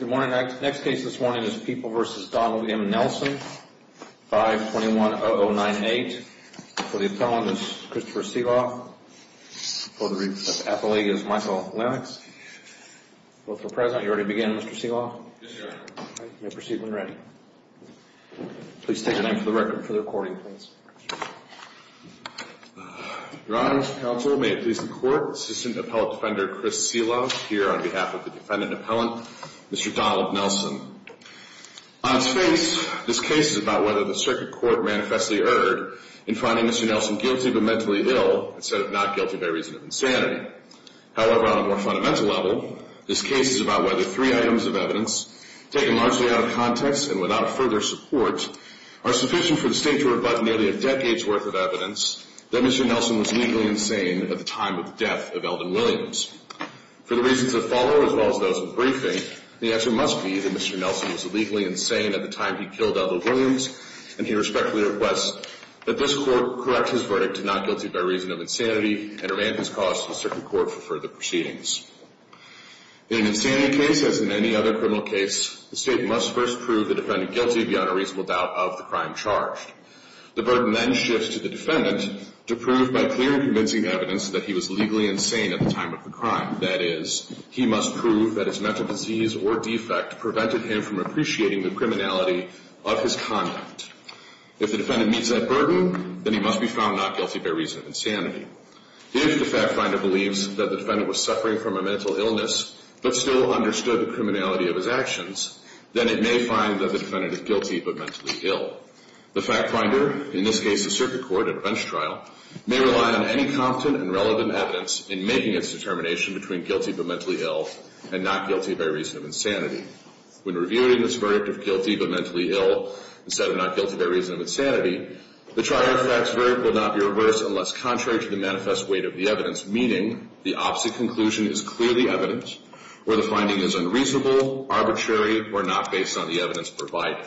521-0098. For the appellant, it's Christopher Seeloff. For the representative athlete, it's Michael Lennox. Both are present. You're ready to begin, Mr. Seeloff? Yes, Your Honor. Okay. You may proceed when ready. Please state your name for the record, for the recording, please. Your Honor, counsel, may it please the Court, Assistant Appellant Defender Chris Seeloff, here on behalf of the defendant appellant, Mr. Donald Nelson. On its face, this case is about whether the circuit court manifestly erred in finding Mr. Nelson guilty but mentally ill, instead of not guilty by reason of insanity. However, on a more fundamental level, this case is about whether three items of evidence, taken largely out of context and without further support, are sufficient for the State to rebut nearly a decade's worth of evidence that Mr. Nelson was legally insane at the time of the death of Elvin Williams. For the reasons that follow, as well as those in the briefing, the answer must be that Mr. Nelson was legally insane at the time he killed Elvin Williams, and he respectfully requests that this Court correct his verdict to not guilty by reason of insanity and remand his cause to the circuit court for further proceedings. In an insanity case, as in any other criminal case, the State must first prove the defendant guilty beyond a reasonable doubt of the crime charged. The burden then shifts to the defendant to prove by clear and convincing evidence that he was legally insane at the time of the crime. That is, he must prove that his mental disease or defect prevented him from appreciating the criminality of his conduct. If the defendant meets that burden, then he must be found not guilty by reason of insanity. If the fact finder believes that the defendant was suffering from a mental illness but still understood the criminality of his actions, then it may find that the defendant is guilty but mentally ill. The fact finder, in this case the circuit court at a bench trial, may rely on any confident and relevant evidence in making its determination between guilty but mentally ill and not guilty by reason of insanity. When reviewing this verdict of guilty but mentally ill instead of not guilty by reason of insanity, the trial effects verdict will not be reversed unless contrary to the manifest weight of the evidence, meaning the opposite conclusion is clearly evident where the finding is unreasonable, arbitrary, or not based on the evidence provided.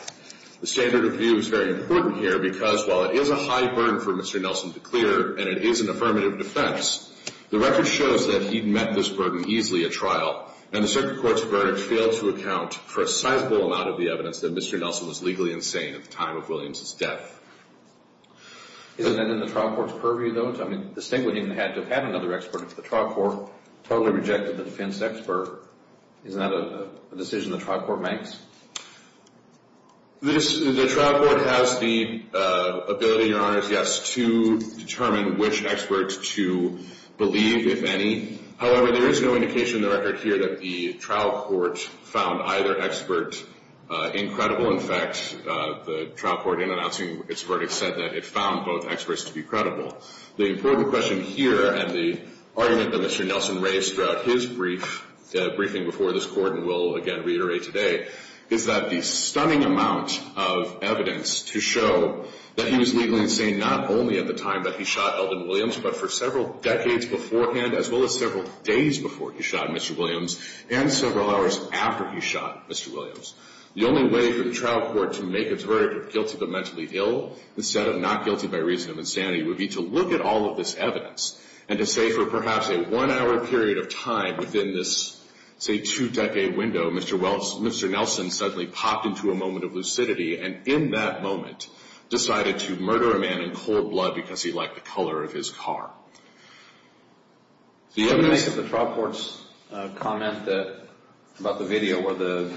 The standard of view is very important here because while it is a high burden for Mr. Nelson to clear and it is an affirmative defense, the record shows that he met this burden easily at trial, and the circuit court's verdict failed to account for a sizable amount of the evidence that Mr. Nelson was legally insane at the time of Williams' death. Isn't that in the trial court's purview though? I mean, the state would even have to have had another expert if the trial court totally rejected the defense expert. Isn't that a decision the trial court makes? The trial court has the ability, Your Honor, yes, to determine which experts to believe, if any. However, there is no indication in the record here that the trial court found either expert incredible. In fact, the trial court in announcing its verdict said that it found both experts to be credible. The important question here and the argument that Mr. Nelson raised throughout his briefing before this court, and will again reiterate today, is that the stunning amount of evidence to show that he was legally insane not only at the time that he shot Elvin Williams, but for several decades beforehand as well as several days before he shot Mr. Williams and several hours after he shot Mr. Williams. The only way for the trial court to make its verdict of guilty but mentally ill instead of not guilty by reason of insanity would be to look at all of this evidence and to say for perhaps a one-hour period of time within this, say, two-decade window, Mr. Nelson suddenly popped into a moment of lucidity and in that moment decided to murder a man in cold blood because he liked the color of his car. The trial court's comment about the video where the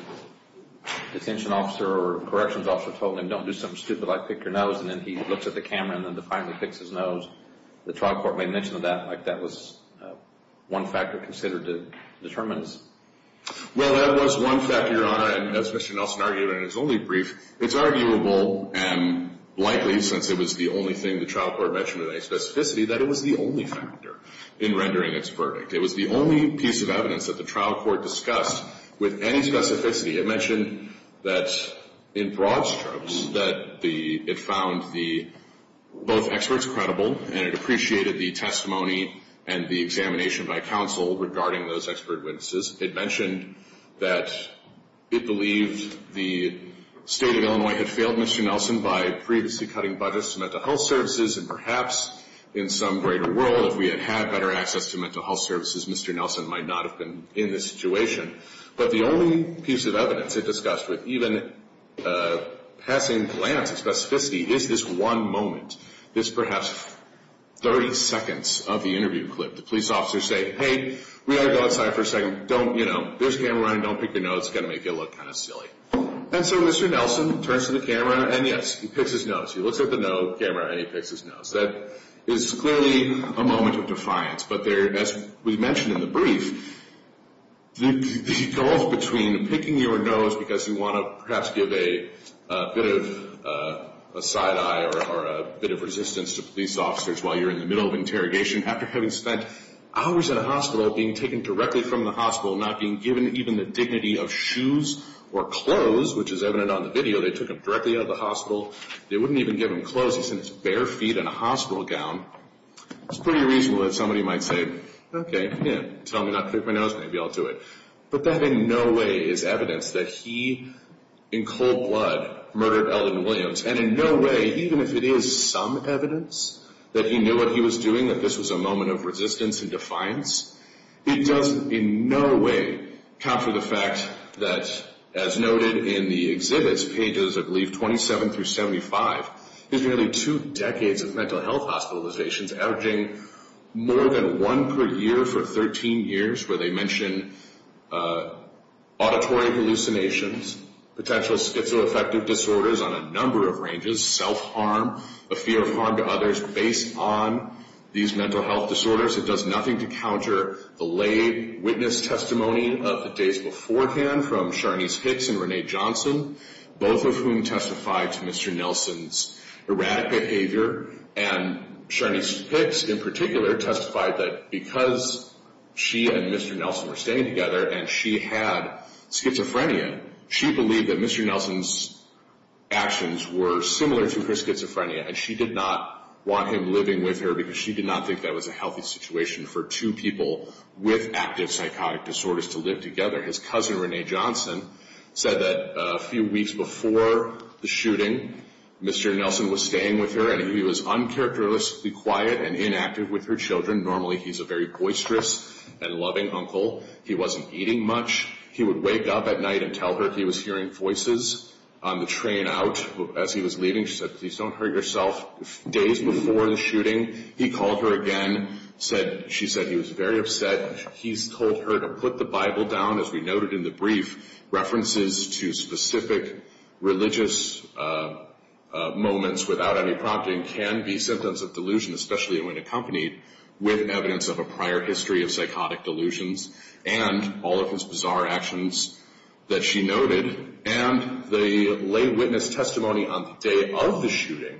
detention officer or corrections officer told him, don't do something stupid like pick your nose, and then he looks at the camera and then finally picks his nose, the trial court made mention of that like that was one factor considered to determine his... Well, that was one factor, Your Honor, and as Mr. Nelson argued in his only brief, it's arguable and likely, since it was the only thing the trial court mentioned with any specificity, that it was the only factor in rendering its verdict. It was the only piece of evidence that the trial court discussed with any specificity. It mentioned that in broad strokes that it found both experts credible and it appreciated the testimony and the examination by counsel regarding those expert witnesses. It mentioned that it believed the state of Illinois had failed Mr. Nelson by previously cutting budgets to mental health services and perhaps in some greater world if we had had better access to mental health services, Mr. Nelson might not have been in this situation. But the only piece of evidence it discussed with even a passing glance of specificity is this one moment, this perhaps 30 seconds of the interview clip. The police officers say, hey, we ought to go outside for a second. Don't, you know, there's a camera running. Don't pick your nose. It's going to make you look kind of silly. And so Mr. Nelson turns to the camera and, yes, he picks his nose. He looks at the camera and he picks his nose. That is clearly a moment of defiance. But as we mentioned in the brief, the gulf between picking your nose because you want to perhaps give a bit of a side eye or a bit of resistance to police officers while you're in the middle of interrogation after having spent hours in a hospital, being taken directly from the hospital, not being given even the dignity of shoes or clothes, which is evident on the video. They took him directly out of the hospital. They wouldn't even give him clothes. He's in his bare feet in a hospital gown. It's pretty reasonable that somebody might say, okay, tell me not to pick my nose, maybe I'll do it. But that in no way is evidence that he in cold blood murdered Ellen Williams. And in no way, even if it is some evidence that he knew what he was doing, that this was a moment of resistance and defiance, it doesn't in no way counter the fact that, as noted in the exhibits, pages, I believe, 27 through 75, there's nearly two decades of mental health hospitalizations, averaging more than one per year for 13 years, where they mention auditory hallucinations, potential schizoaffective disorders on a number of ranges, self-harm, a fear of harm to others based on these mental health disorders. It does nothing to counter the lay witness testimony of the days beforehand from Sharnese Hicks and Renee Johnson, both of whom testified to Mr. Nelson's erratic behavior. And Sharnese Hicks, in particular, testified that because she and Mr. Nelson were staying together and she had schizophrenia, she believed that Mr. Nelson's actions were similar to her schizophrenia, and she did not want him living with her because she did not think that was a healthy situation for two people with active psychotic disorders to live together. His cousin, Renee Johnson, said that a few weeks before the shooting, Mr. Nelson was staying with her and he was uncharacteristically quiet and inactive with her children. Normally, he's a very boisterous and loving uncle. He wasn't eating much. He would wake up at night and tell her he was hearing voices on the train out as he was leaving. She said, please don't hurt yourself. Days before the shooting, he called her again. She said he was very upset. She said he's told her to put the Bible down, as we noted in the brief. References to specific religious moments without any prompting can be symptoms of delusion, especially when accompanied with evidence of a prior history of psychotic delusions and all of his bizarre actions that she noted. And the lay witness testimony on the day of the shooting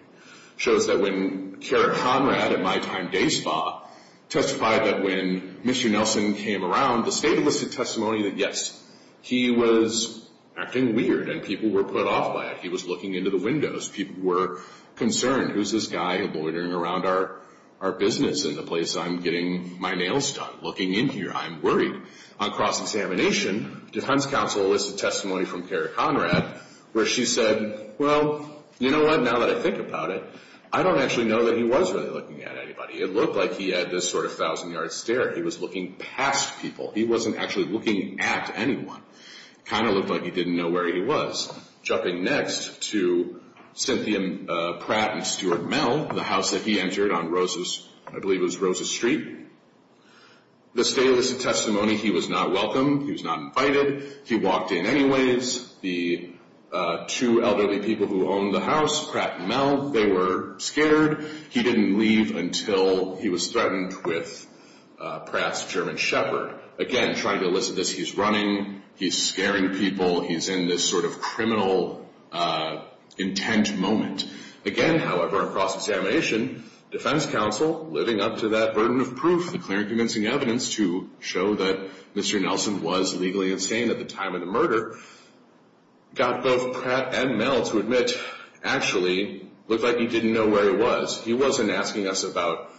shows that when Karen Conrad at My Time Day Spa testified that when Mr. Nelson came around, the state enlisted testimony that, yes, he was acting weird and people were put off by it. He was looking into the windows. People were concerned. Who's this guy loitering around our business in the place? I'm getting my nails done looking in here. I'm worried. On cross-examination, defense counsel enlisted testimony from Karen Conrad where she said, well, you know what, now that I think about it, I don't actually know that he was really looking at anybody. It looked like he had this sort of thousand-yard stare. He was looking past people. He wasn't actually looking at anyone. It kind of looked like he didn't know where he was. Jumping next to Cynthia Pratt and Stuart Mell, the house that he entered on Rose's, I believe it was Rose's Street. The state enlisted testimony, he was not welcome. He was not invited. He walked in anyways. The two elderly people who owned the house, Pratt and Mell, they were scared. He didn't leave until he was threatened with Pratt's German Shepherd. Again, trying to elicit this, he's running, he's scaring people, he's in this sort of criminal intent moment. Again, however, on cross-examination, defense counsel, living up to that burden of proof, the clear and convincing evidence to show that Mr. Nelson was legally insane at the time of the murder, got both Pratt and Mell to admit, actually, looked like he didn't know where he was. He wasn't asking us about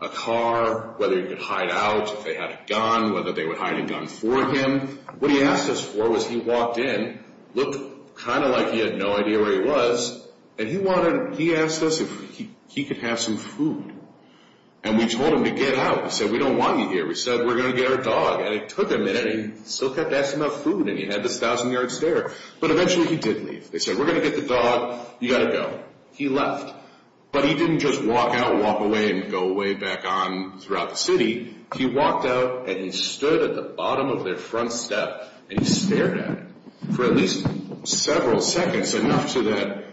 a car, whether he could hide out, if they had a gun, whether they would hide a gun for him. What he asked us for was he walked in, looked kind of like he had no idea where he was, and he wanted, he asked us if he could have some food. And we told him to get out. We said, we don't want you here. We said, we're going to get our dog. And it took a minute, and he still kept asking about food, and he had this thousand-yard stare. But eventually he did leave. They said, we're going to get the dog. You've got to go. He left. But he didn't just walk out, walk away, and go away back on throughout the city. He walked out, and he stood at the bottom of their front step, and he stared at him for at least several seconds, enough so that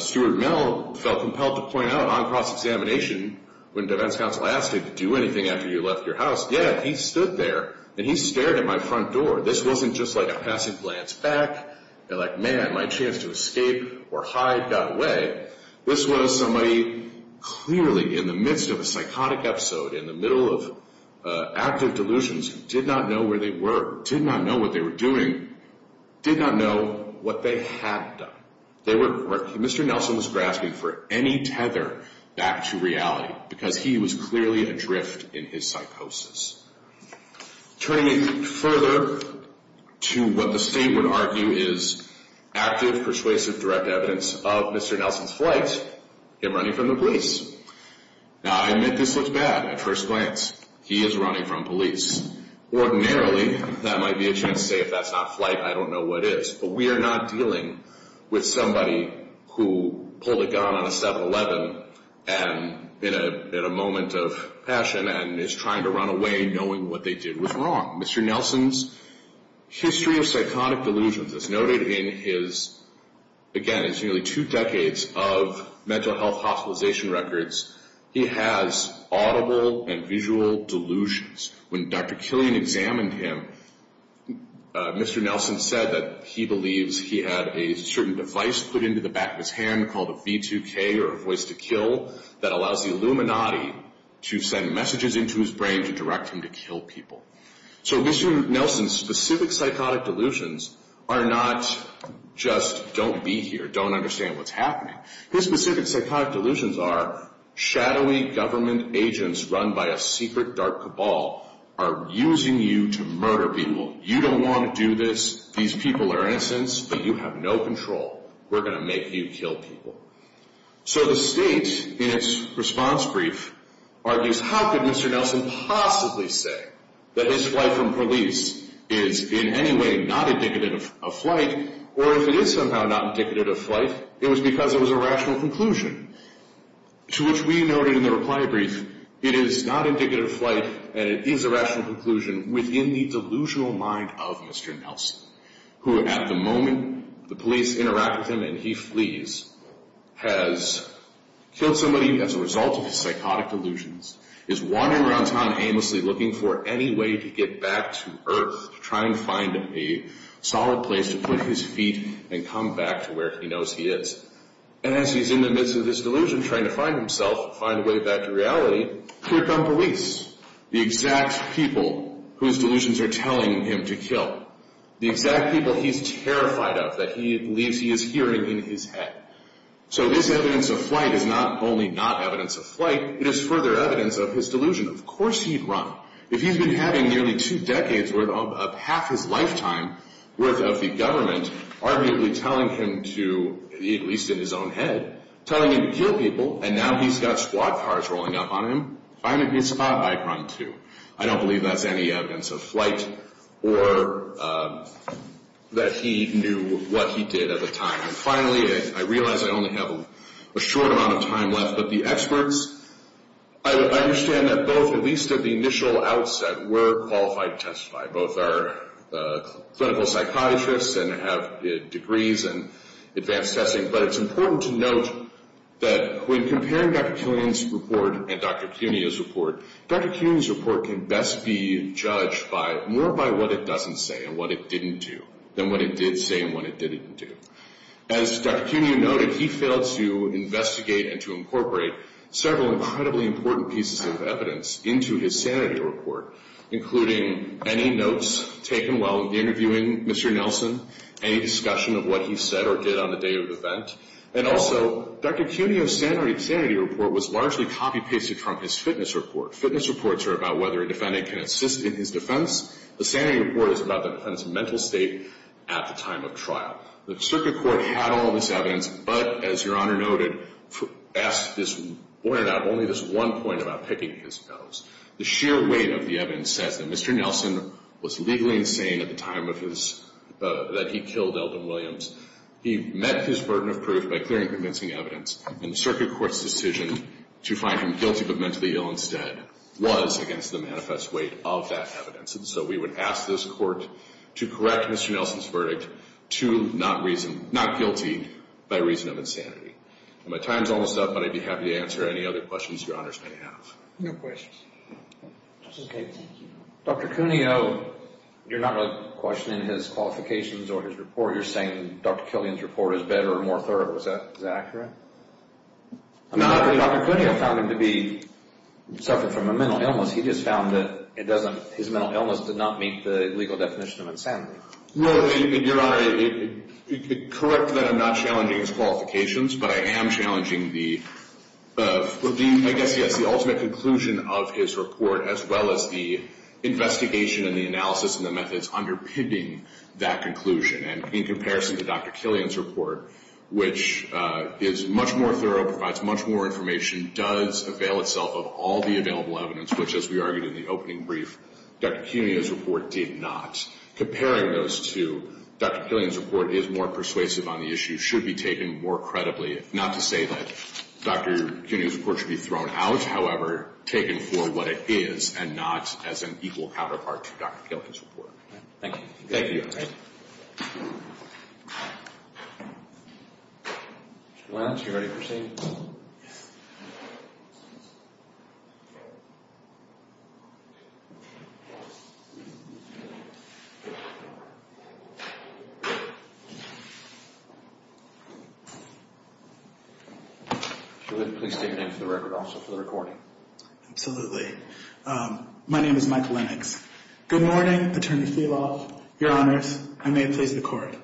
Stuart Mell felt compelled to point out on cross-examination, when defense counsel asked him to do anything after you left your house, yeah, he stood there, and he stared at my front door. This wasn't just like a passive glance back, like, man, my chance to escape or hide got away. This was somebody clearly in the midst of a psychotic episode, in the middle of active delusions, did not know where they were, did not know what they were doing, did not know what they had done. They were, Mr. Nelson was grasping for any tether back to reality because he was clearly adrift in his psychosis. Turning it further to what the state would argue is active, persuasive, direct evidence of Mr. Nelson's flight, him running from the police. Now, I admit this looks bad at first glance. He is running from police. Ordinarily, that might be a chance to say if that's not flight, I don't know what is. But we are not dealing with somebody who pulled a gun on a 7-Eleven and in a moment of passion and is trying to run away knowing what they did was wrong. Mr. Nelson's history of psychotic delusions is noted in his, again, it's nearly two decades of mental health hospitalization records. He has audible and visual delusions. When Dr. Killian examined him, Mr. Nelson said that he believes he had a certain device put into the back of his hand called a V2K or a voice to kill that allows the Illuminati to send messages into his brain to direct him to kill people. So Mr. Nelson's specific psychotic delusions are not just don't be here, don't understand what's happening. His specific psychotic delusions are shadowy government agents run by a secret dark cabal are using you to murder people. You don't want to do this. These people are innocents, but you have no control. We're going to make you kill people. So the state in its response brief argues how could Mr. Nelson possibly say that his flight from police is in any way not indicative of flight or if it is somehow not indicative of flight, it was because it was a rational conclusion to which we noted in the reply brief, it is not indicative of flight and it is a rational conclusion within the delusional mind of Mr. Nelson who at the moment the police interact with him and he flees, has killed somebody as a result of his psychotic delusions, is wandering around town aimlessly looking for any way to get back to Earth to try and find a solid place to put his feet and come back to where he knows he is. And as he's in the midst of this delusion trying to find himself, find a way back to reality, here come police, the exact people whose delusions are telling him to kill, the exact people he's terrified of that he believes he is hearing in his head. So this evidence of flight is not only not evidence of flight, it is further evidence of his delusion. Of course he'd run. If he's been having nearly two decades worth of half his lifetime worth of the government arguably telling him to, at least in his own head, telling him to kill people and now he's got squad cars rolling up on him, find a good spot, I'd run too. I don't believe that's any evidence of flight or that he knew what he did at the time. And finally, I realize I only have a short amount of time left, but the experts, I understand that both, at least at the initial outset, were qualified to testify. Both are clinical psychiatrists and have degrees in advanced testing, but it's important to note that when comparing Dr. Killian's report and Dr. Cuneo's report, Dr. Cuneo's report can best be judged more by what it doesn't say and what it didn't do than what it did say and what it didn't do. As Dr. Cuneo noted, he failed to investigate and to incorporate several incredibly important pieces of evidence into his sanity report, including any notes taken while interviewing Mr. Nelson, any discussion of what he said or did on the day of the event, and also Dr. Cuneo's sanity report was largely copy-pasted from his fitness report. Fitness reports are about whether a defendant can assist in his defense. The sanity report is about the defendant's mental state at the time of trial. The circuit court had all this evidence, but as Your Honor noted, asked this, pointed out only this one point about picking his nose. The sheer weight of the evidence says that Mr. Nelson was legally insane at the time of his, that he killed Elton Williams. He met his burden of proof by clearing convincing evidence, and the circuit court's decision to find him guilty but mentally ill instead was against the manifest weight of that evidence. And so we would ask this court to correct Mr. Nelson's verdict to not guilty by reason of insanity. My time's almost up, but I'd be happy to answer any other questions Your Honors may have. No questions. Dr. Cuneo, you're not really questioning his qualifications or his report. You're saying Dr. Killian's report is better and more thorough. Is that accurate? Not really. Dr. Cuneo found him to be suffering from a mental illness. He just found that his mental illness did not meet the legal definition of insanity. No, Your Honor, correct that I'm not challenging his qualifications, but I am challenging the, I guess, yes, the ultimate conclusion of his report as well as the investigation and the analysis and the methods underpinning that conclusion. And in comparison to Dr. Killian's report, which is much more thorough, provides much more information, does avail itself of all the available evidence, which, as we argued in the opening brief, Dr. Cuneo's report did not. Comparing those two, Dr. Killian's report is more persuasive on the issue, should be taken more credibly, not to say that Dr. Cuneo's report should be thrown out, however taken for what it is and not as an equal counterpart to Dr. Killian's report. Thank you. Thank you, Your Honor. Thank you. Mr. Lennox, are you ready to proceed? Yes. If you would, please state your name for the record also for the recording. Absolutely. My name is Michael Lennox. Good morning, Attorney Feehlaw, Your Honors. I may please the Court.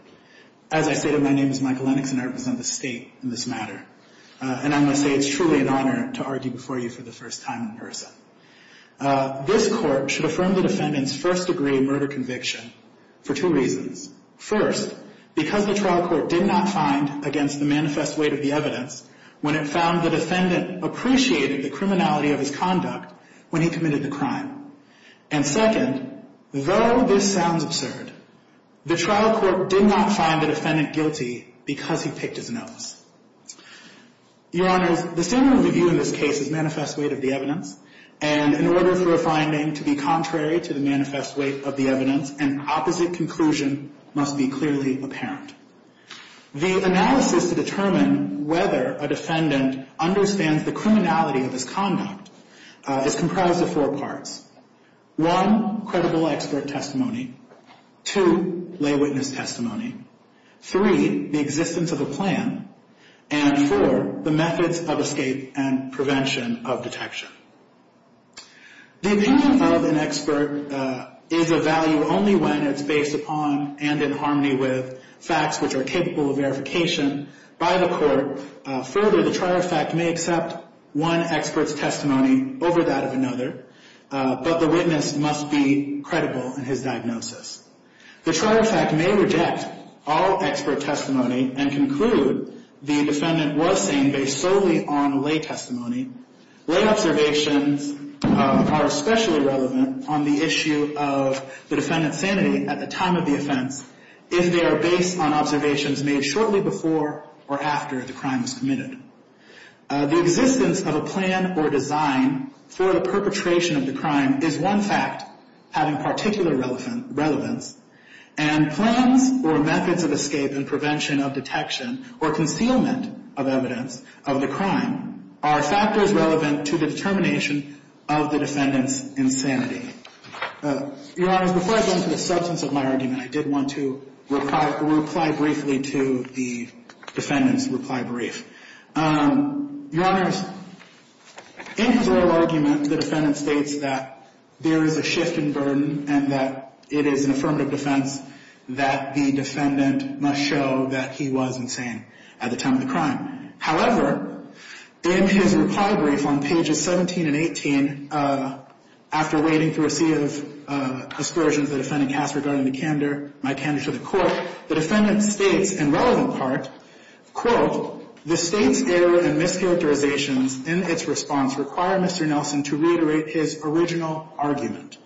As I stated, my name is Michael Lennox and I represent the State in this matter. And I must say it's truly an honor to argue before you for the first time in person. This Court should affirm the defendant's first-degree murder conviction for two reasons. First, because the trial court did not find against the manifest weight of the evidence when it found the defendant appreciated the criminality of his conduct when he committed the crime. And second, though this sounds absurd, the trial court did not find the defendant guilty because he picked his nose. Your Honors, the standard of review in this case is manifest weight of the evidence. And in order for a finding to be contrary to the manifest weight of the evidence, an opposite conclusion must be clearly apparent. The analysis to determine whether a defendant understands the criminality of his conduct is comprised of four parts. One, credible expert testimony. Two, lay witness testimony. Three, the existence of a plan. And four, the methods of escape and prevention of detection. The opinion of an expert is of value only when it's based upon and in harmony with facts which are capable of verification by the court. Therefore, further, the trial effect may accept one expert's testimony over that of another, but the witness must be credible in his diagnosis. The trial effect may reject all expert testimony and conclude the defendant was sane based solely on lay testimony. Lay observations are especially relevant on the issue of the defendant's sanity at the time of the offense if they are based on observations made shortly before or after the crime was committed. The existence of a plan or design for the perpetration of the crime is one fact having particular relevance. And plans or methods of escape and prevention of detection or concealment of evidence of the crime are factors relevant to the determination of the defendant's insanity. Your Honors, before I go into the substance of my argument, I did want to reply briefly to the defendant's reply brief. Your Honors, in his oral argument, the defendant states that there is a shift in burden and that it is an affirmative defense that the defendant must show that he was insane at the time of the crime. However, in his reply brief on pages 17 and 18, after wading through a sea of excursions the defendant cast regarding the candor, my candor to the court, the defendant states, in relevant part, quote, the state's error and mischaracterizations in its response require Mr. Nelson to reiterate his original argument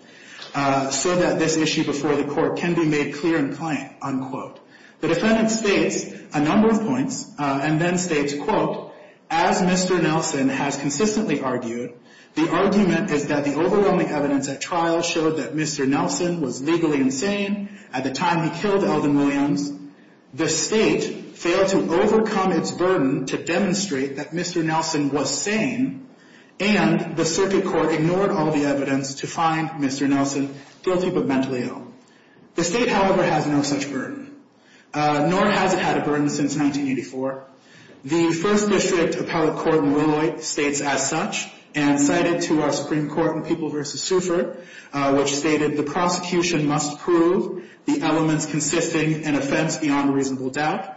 so that this issue before the court can be made clear and plain, unquote. The defendant states a number of points and then states, quote, as Mr. Nelson has consistently argued, the argument is that the overwhelming evidence at trial showed that Mr. Nelson was legally insane at the time he killed Elvin Williams. The state failed to overcome its burden to demonstrate that Mr. Nelson was sane and the circuit court ignored all the evidence to find Mr. Nelson guilty but mentally ill. The state, however, has no such burden, nor has it had a burden since 1984. The First District Appellate Court in Willowite states as such and cited to our Supreme Court in People v. Suford which stated the prosecution must prove the elements consisting an offense beyond reasonable doubt.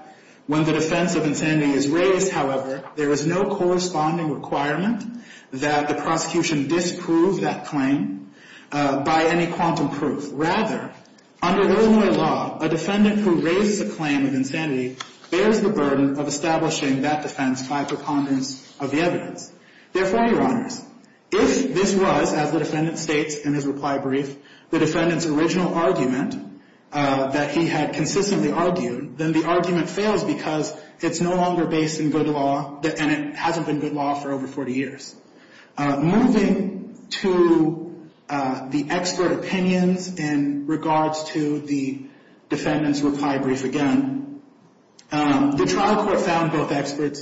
When the defense of insanity is raised, however, there is no corresponding requirement that the prosecution disprove that claim by any quantum proof. Rather, under Illinois law, a defendant who raises a claim of insanity bears the burden of establishing that defense by preponderance of the evidence. Therefore, Your Honors, if this was, as the defendant states in his reply brief, the defendant's original argument that he had consistently argued, then the argument fails because it's no longer based in good law and it hasn't been good law for over 40 years. Moving to the expert opinions in regards to the defendant's reply brief again, the trial court found both expert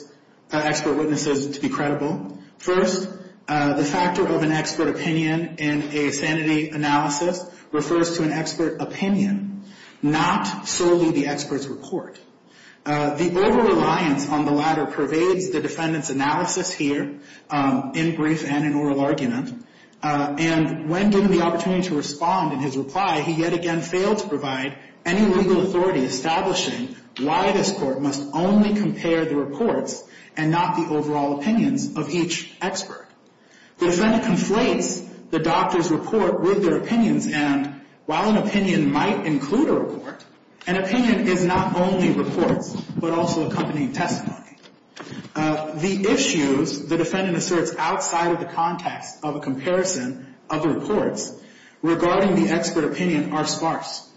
witnesses to be credible. First, the factor of an expert opinion in a sanity analysis refers to an expert opinion, not solely the expert's report. The over-reliance on the latter pervades the defendant's analysis here in brief and in oral argument. And when given the opportunity to respond in his reply, he yet again failed to provide any legal authority establishing why this court must only compare the reports and not the overall opinions of each expert. The defendant conflates the doctor's report with their opinions, and while an opinion might include a report, an opinion is not only reports but also accompanying testimony. The issues the defendant asserts outside of the context of a comparison of reports regarding the expert opinion are sparse.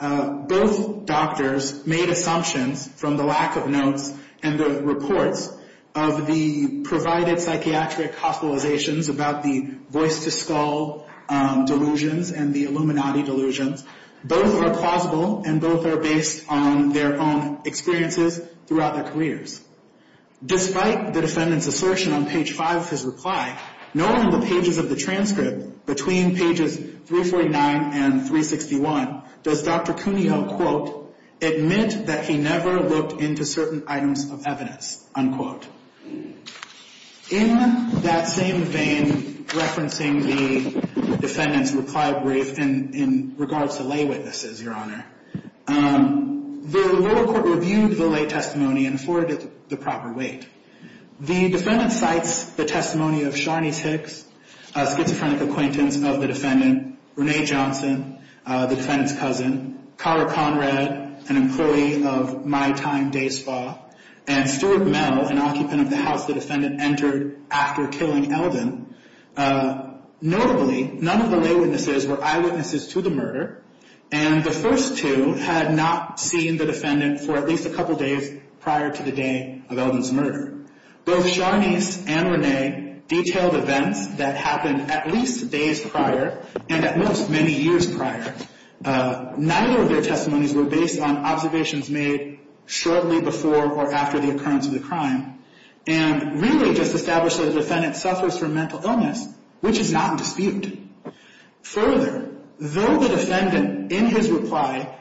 Both doctors made assumptions from the lack of notes and the reports of the provided psychiatric hospitalizations about the voice-to-skull delusions and the Illuminati delusions. Both are plausible and both are based on their own experiences throughout their careers. Despite the defendant's assertion on page 5 of his reply, not only in the pages of the transcript between pages 349 and 361, does Dr. Cooney help, quote, admit that he never looked into certain items of evidence, unquote. In that same vein, referencing the defendant's reply brief in regards to lay witnesses, Your Honor, the lower court reviewed the lay testimony and afforded the proper weight. The defendant cites the testimony of Sharnice Hicks, a schizophrenic acquaintance of the defendant, Renee Johnson, the defendant's cousin, Cara Conrad, an employee of My Time Day Spa, and Stuart Mell, an occupant of the house the defendant entered after killing Eldon. Notably, none of the lay witnesses were eyewitnesses to the murder, and the first two had not seen the defendant for at least a couple days prior to the day of Eldon's murder. Both Sharnice and Renee detailed events that happened at least days prior and at most many years prior. Neither of their testimonies were based on observations made shortly before or after the occurrence of the crime, and really just established that the defendant suffers from mental illness, which is not in dispute. Further, though the defendant, in his reply,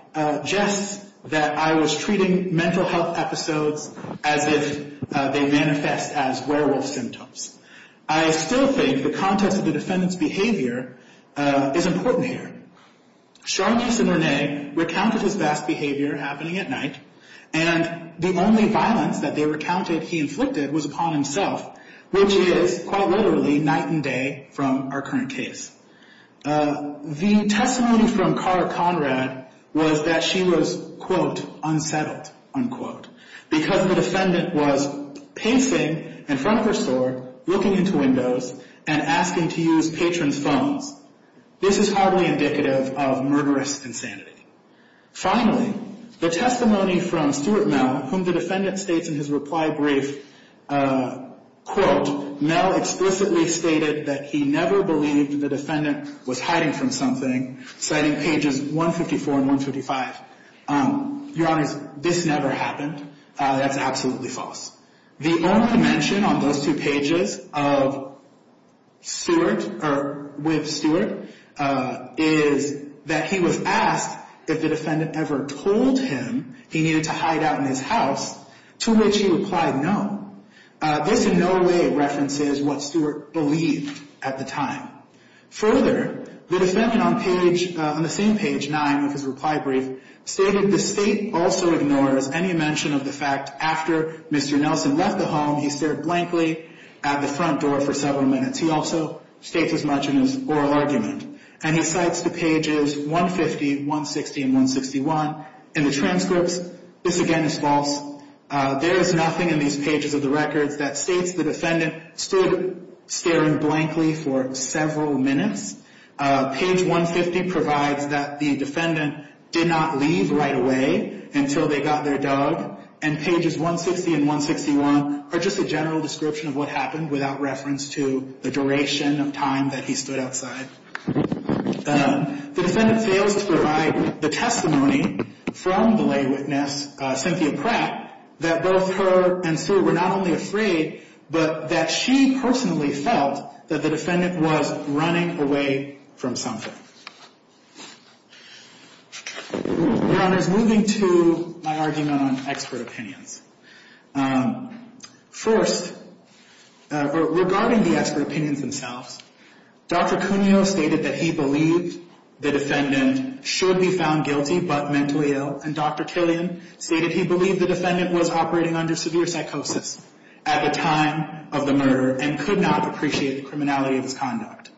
jests that I was treating mental health episodes as if they manifest as werewolf symptoms, I still think the context of the defendant's behavior is important here. Sharnice and Renee recounted his vast behavior happening at night, and the only violence that they recounted he inflicted was upon himself, which is, quite literally, night and day from our current case. The testimony from Cara Conrad was that she was, quote, looking into windows and asking to use patrons' phones. This is hardly indicative of murderous insanity. Finally, the testimony from Stuart Mell, whom the defendant states in his reply brief, quote, Mell explicitly stated that he never believed the defendant was hiding from something, citing pages 154 and 155. Your Honors, this never happened. That's absolutely false. The only mention on those two pages of Stuart, or with Stuart, is that he was asked if the defendant ever told him he needed to hide out in his house, to which he replied no. This in no way references what Stuart believed at the time. Further, the defendant on page, on the same page, 9 of his reply brief, stated the state also ignores any mention of the fact after Mr. Nelson left the home, he stared blankly at the front door for several minutes. He also states as much in his oral argument, and he cites the pages 150, 160, and 161. In the transcripts, this again is false. There is nothing in these pages of the records that states the defendant stood staring blankly for several minutes. Page 150 provides that the defendant did not leave right away until they got their dog, and pages 160 and 161 are just a general description of what happened without reference to the duration of time that he stood outside. The defendant fails to provide the testimony from the lay witness, Cynthia Pratt, that both her and Stuart were not only afraid, but that she personally felt that the defendant was running away from something. Your Honor, moving to my argument on expert opinions. First, regarding the expert opinions themselves, Dr. Cuneo stated that he believed the defendant should be found guilty but mentally ill, and Dr. Killian stated he believed the defendant was operating under severe psychosis. At the time of the murder, and could not appreciate the criminality of his conduct.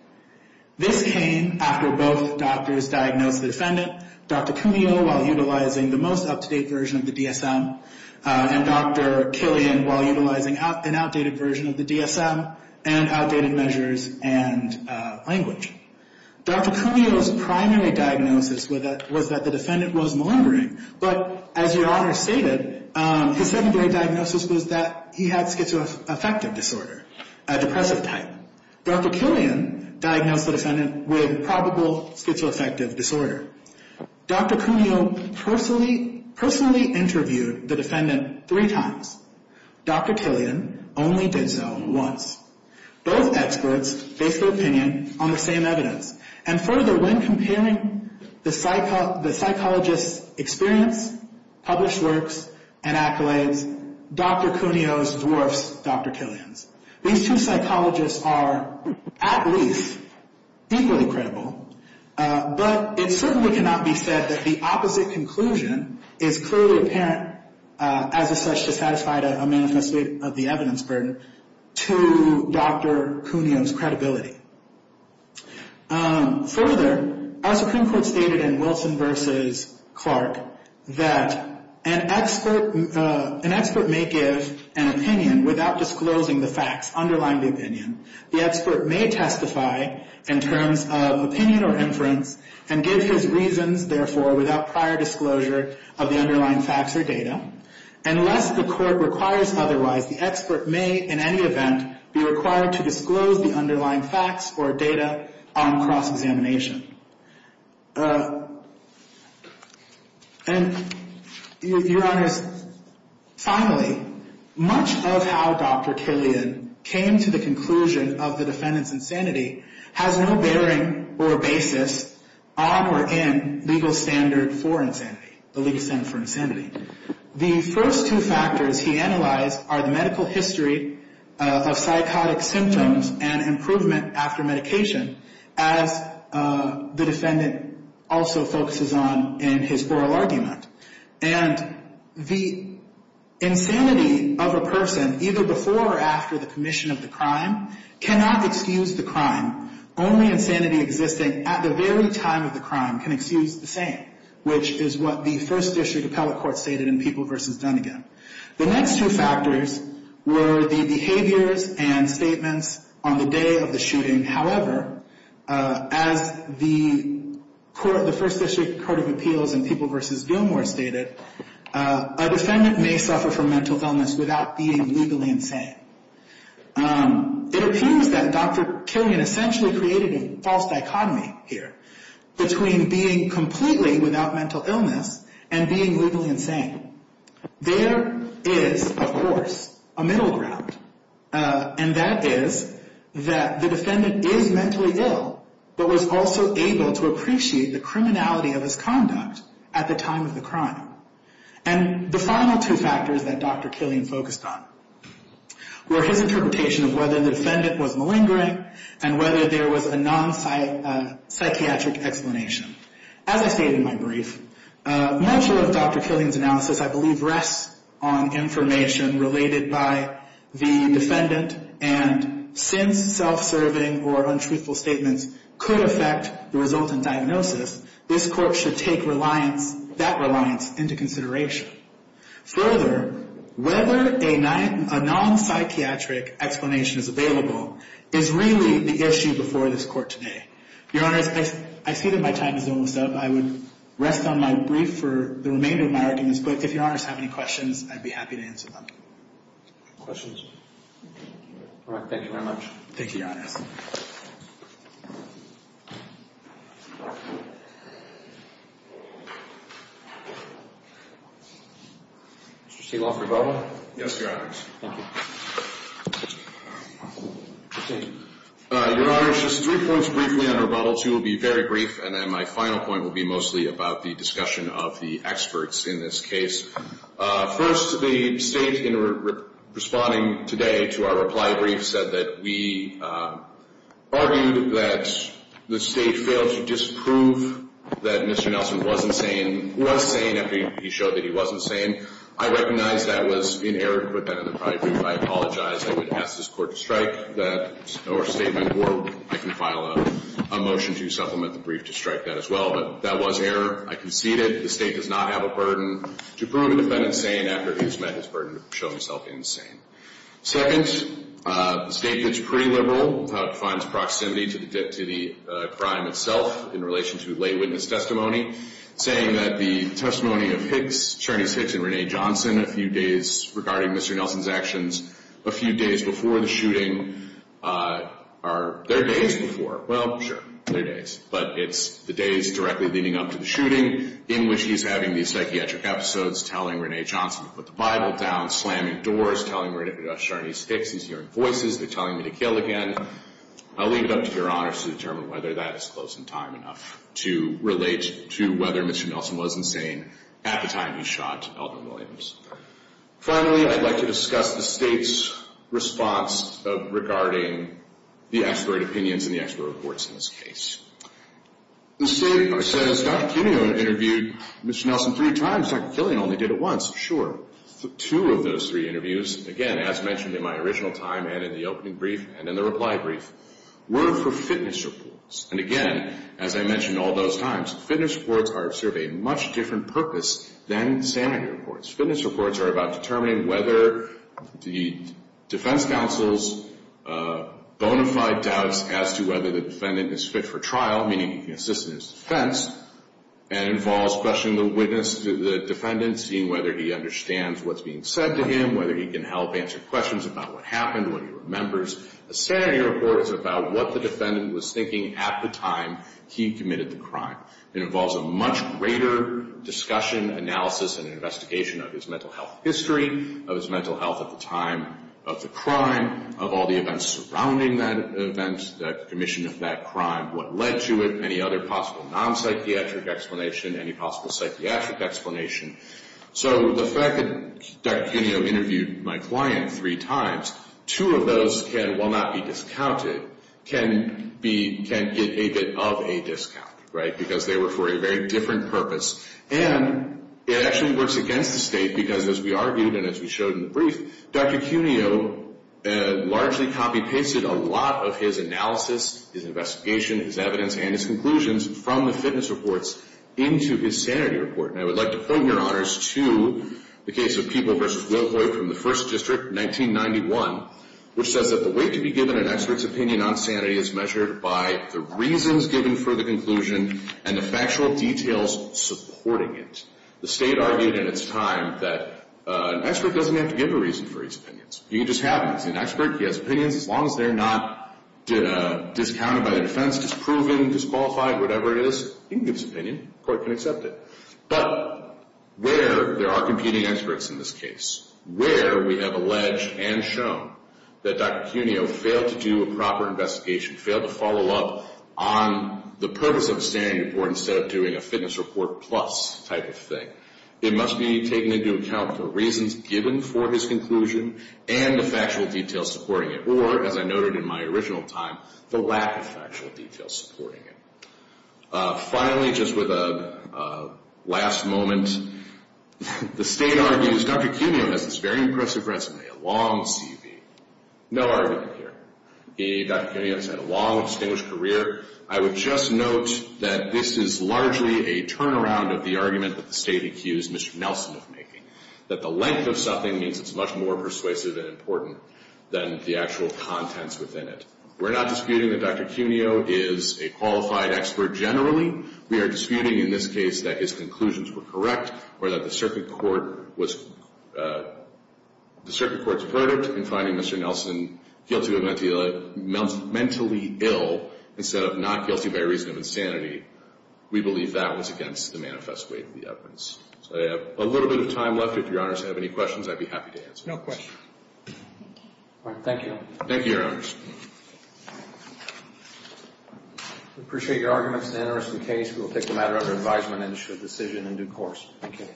This came after both doctors diagnosed the defendant, Dr. Cuneo while utilizing the most up-to-date version of the DSM, and Dr. Killian while utilizing an outdated version of the DSM, and outdated measures and language. Dr. Cuneo's primary diagnosis was that the defendant was malingering, but as Your Honor stated, his secondary diagnosis was that he had schizoaffective disorder, a depressive type. Dr. Killian diagnosed the defendant with probable schizoaffective disorder. Dr. Cuneo personally interviewed the defendant three times. Dr. Killian only did so once. Both experts based their opinion on the same evidence, and further, when comparing the psychologist's experience, published works, and accolades, Dr. Cuneo's dwarfs Dr. Killian's. These two psychologists are at least equally credible, but it certainly cannot be said that the opposite conclusion is clearly apparent, as is such to satisfy a manifesto of the evidence burden, to Dr. Cuneo's credibility. Further, our Supreme Court stated in Wilson v. Clark that an expert may give an opinion without disclosing the facts underlying the opinion. The expert may testify in terms of opinion or inference, and give his reasons, therefore, without prior disclosure of the underlying facts or data. Unless the court requires otherwise, the expert may, in any event, be required to disclose the underlying facts or data on cross-examination. And, Your Honors, finally, much of how Dr. Killian came to the conclusion of the defendant's insanity has no bearing or basis on or in legal standard for insanity, the legal standard for insanity. The first two factors he analyzed are the medical history of psychotic symptoms and improvement after medication, as the defendant also focuses on in his oral argument. And the insanity of a person, either before or after the commission of the crime, cannot excuse the crime. Only insanity existing at the very time of the crime can excuse the same, which is what the First District Appellate Court stated in People v. Dunnegan. The next two factors were the behaviors and statements on the day of the shooting. However, as the First District Court of Appeals in People v. Gilmore stated, a defendant may suffer from mental illness without being legally insane. It appears that Dr. Killian essentially created a false dichotomy here between being completely without mental illness and being legally insane. There is, of course, a middle ground, and that is that the defendant is mentally ill but was also able to appreciate the criminality of his conduct at the time of the crime. And the final two factors that Dr. Killian focused on were his interpretation of whether the defendant was malingering and whether there was a non-psychiatric explanation. As I stated in my brief, much of Dr. Killian's analysis, I believe, rests on information related by the defendant. And since self-serving or untruthful statements could affect the resultant diagnosis, this court should take that reliance into consideration. Further, whether a non-psychiatric explanation is available is really the issue before this court today. Your Honors, I see that my time is almost up. I would rest on my brief for the remainder of my arguments, but if Your Honors have any questions, I'd be happy to answer them. Questions? Thank you, Your Honors. Mr. Steele, for rebuttal? Yes, Your Honors. Thank you. Mr. Steele. Your Honors, just three points briefly on rebuttal. Two will be very brief, and then my final point will be mostly about the discussion of the experts in this case. First, the State, in responding today to our reply brief, said that we argued that the State failed to disprove that Mr. Nelson was sane after he showed that he wasn't sane. I recognize that was in error to put that in the reply brief. I apologize. I would ask this Court to strike that statement, or I can file a motion to supplement the brief to strike that as well, but that was error. I concede it. The State does not have a burden to prove a defendant sane after he has met his burden to show himself insane. Second, the State gets pretty liberal about its proximity to the crime itself in relation to lay witness testimony, saying that the testimony of Sharnice Hicks and Rene Johnson a few days regarding Mr. Nelson's actions, a few days before the shooting, are their days before. Well, sure, their days. But it's the days directly leading up to the shooting in which he's having these psychiatric episodes, telling Rene Johnson to put the Bible down, slamming doors, telling Sharnice Hicks he's hearing voices, they're telling him to kill again. I'll leave it up to Your Honors to determine whether that is close in time enough to relate to whether Mr. Nelson was insane at the time he shot Eldon Williams. Finally, I'd like to discuss the State's response regarding the expert opinions and the expert reports in this case. The State says Dr. Killian interviewed Mr. Nelson three times. Dr. Killian only did it once. Sure. Two of those three interviews, again, as mentioned in my original time and in the opening brief and in the reply brief, were for fitness reports. And again, as I mentioned all those times, fitness reports serve a much different purpose than sanity reports. Fitness reports are about determining whether the defense counsel's bona fide doubts as to whether the defendant is fit for trial, meaning he can assist in his defense, and involves questioning the witness, the defendant, seeing whether he understands what's being said to him, A sanity report is about what the defendant was thinking at the time he committed the crime. It involves a much greater discussion, analysis, and investigation of his mental health history, of his mental health at the time of the crime, of all the events surrounding that event, the commission of that crime, what led to it, any other possible non-psychiatric explanation, any possible psychiatric explanation. So the fact that Dr. Killian interviewed my client three times, two of those can, while not be discounted, can get a bit of a discount, right? Because they were for a very different purpose. And it actually works against the state because, as we argued and as we showed in the brief, Dr. Cuneo largely copy-pasted a lot of his analysis, his investigation, his evidence, and his conclusions from the fitness reports into his sanity report. And I would like to point your honors to the case of People v. Wilhoit from the 1st District, 1991, which says that the weight to be given an expert's opinion on sanity is measured by the reasons given for the conclusion and the factual details supporting it. The state argued in its time that an expert doesn't have to give a reason for his opinions. You can just have him. He's an expert. He has opinions. As long as they're not discounted by the defense, disproven, disqualified, whatever it is, he can give his opinion. The court can accept it. But where there are competing experts in this case, where we have alleged and shown that Dr. Cuneo failed to do a proper investigation, failed to follow up on the purpose of the sanity report instead of doing a fitness report plus type of thing, it must be taken into account for reasons given for his conclusion and the factual details supporting it, or, as I noted in my original time, the lack of factual details supporting it. Finally, just with a last moment, the state argues Dr. Cuneo has this very impressive resume, a long CV. No argument here. Dr. Cuneo has had a long, distinguished career. I would just note that this is largely a turnaround of the argument that the state accused Mr. Nelson of making, that the length of something means it's much more persuasive and important than the actual contents within it. We're not disputing that Dr. Cuneo is a qualified expert generally. We are disputing in this case that his conclusions were correct or that the circuit court was, the circuit court's verdict in finding Mr. Nelson guilty of mentally ill instead of not guilty by reason of insanity, we believe that was against the manifest way of the evidence. So I have a little bit of time left. If Your Honors have any questions, I'd be happy to answer those. No questions. All right. Thank you. Thank you, Your Honors. We appreciate your arguments and interest in the case. We will take the matter under advisement and issue a decision in due course. Thank you.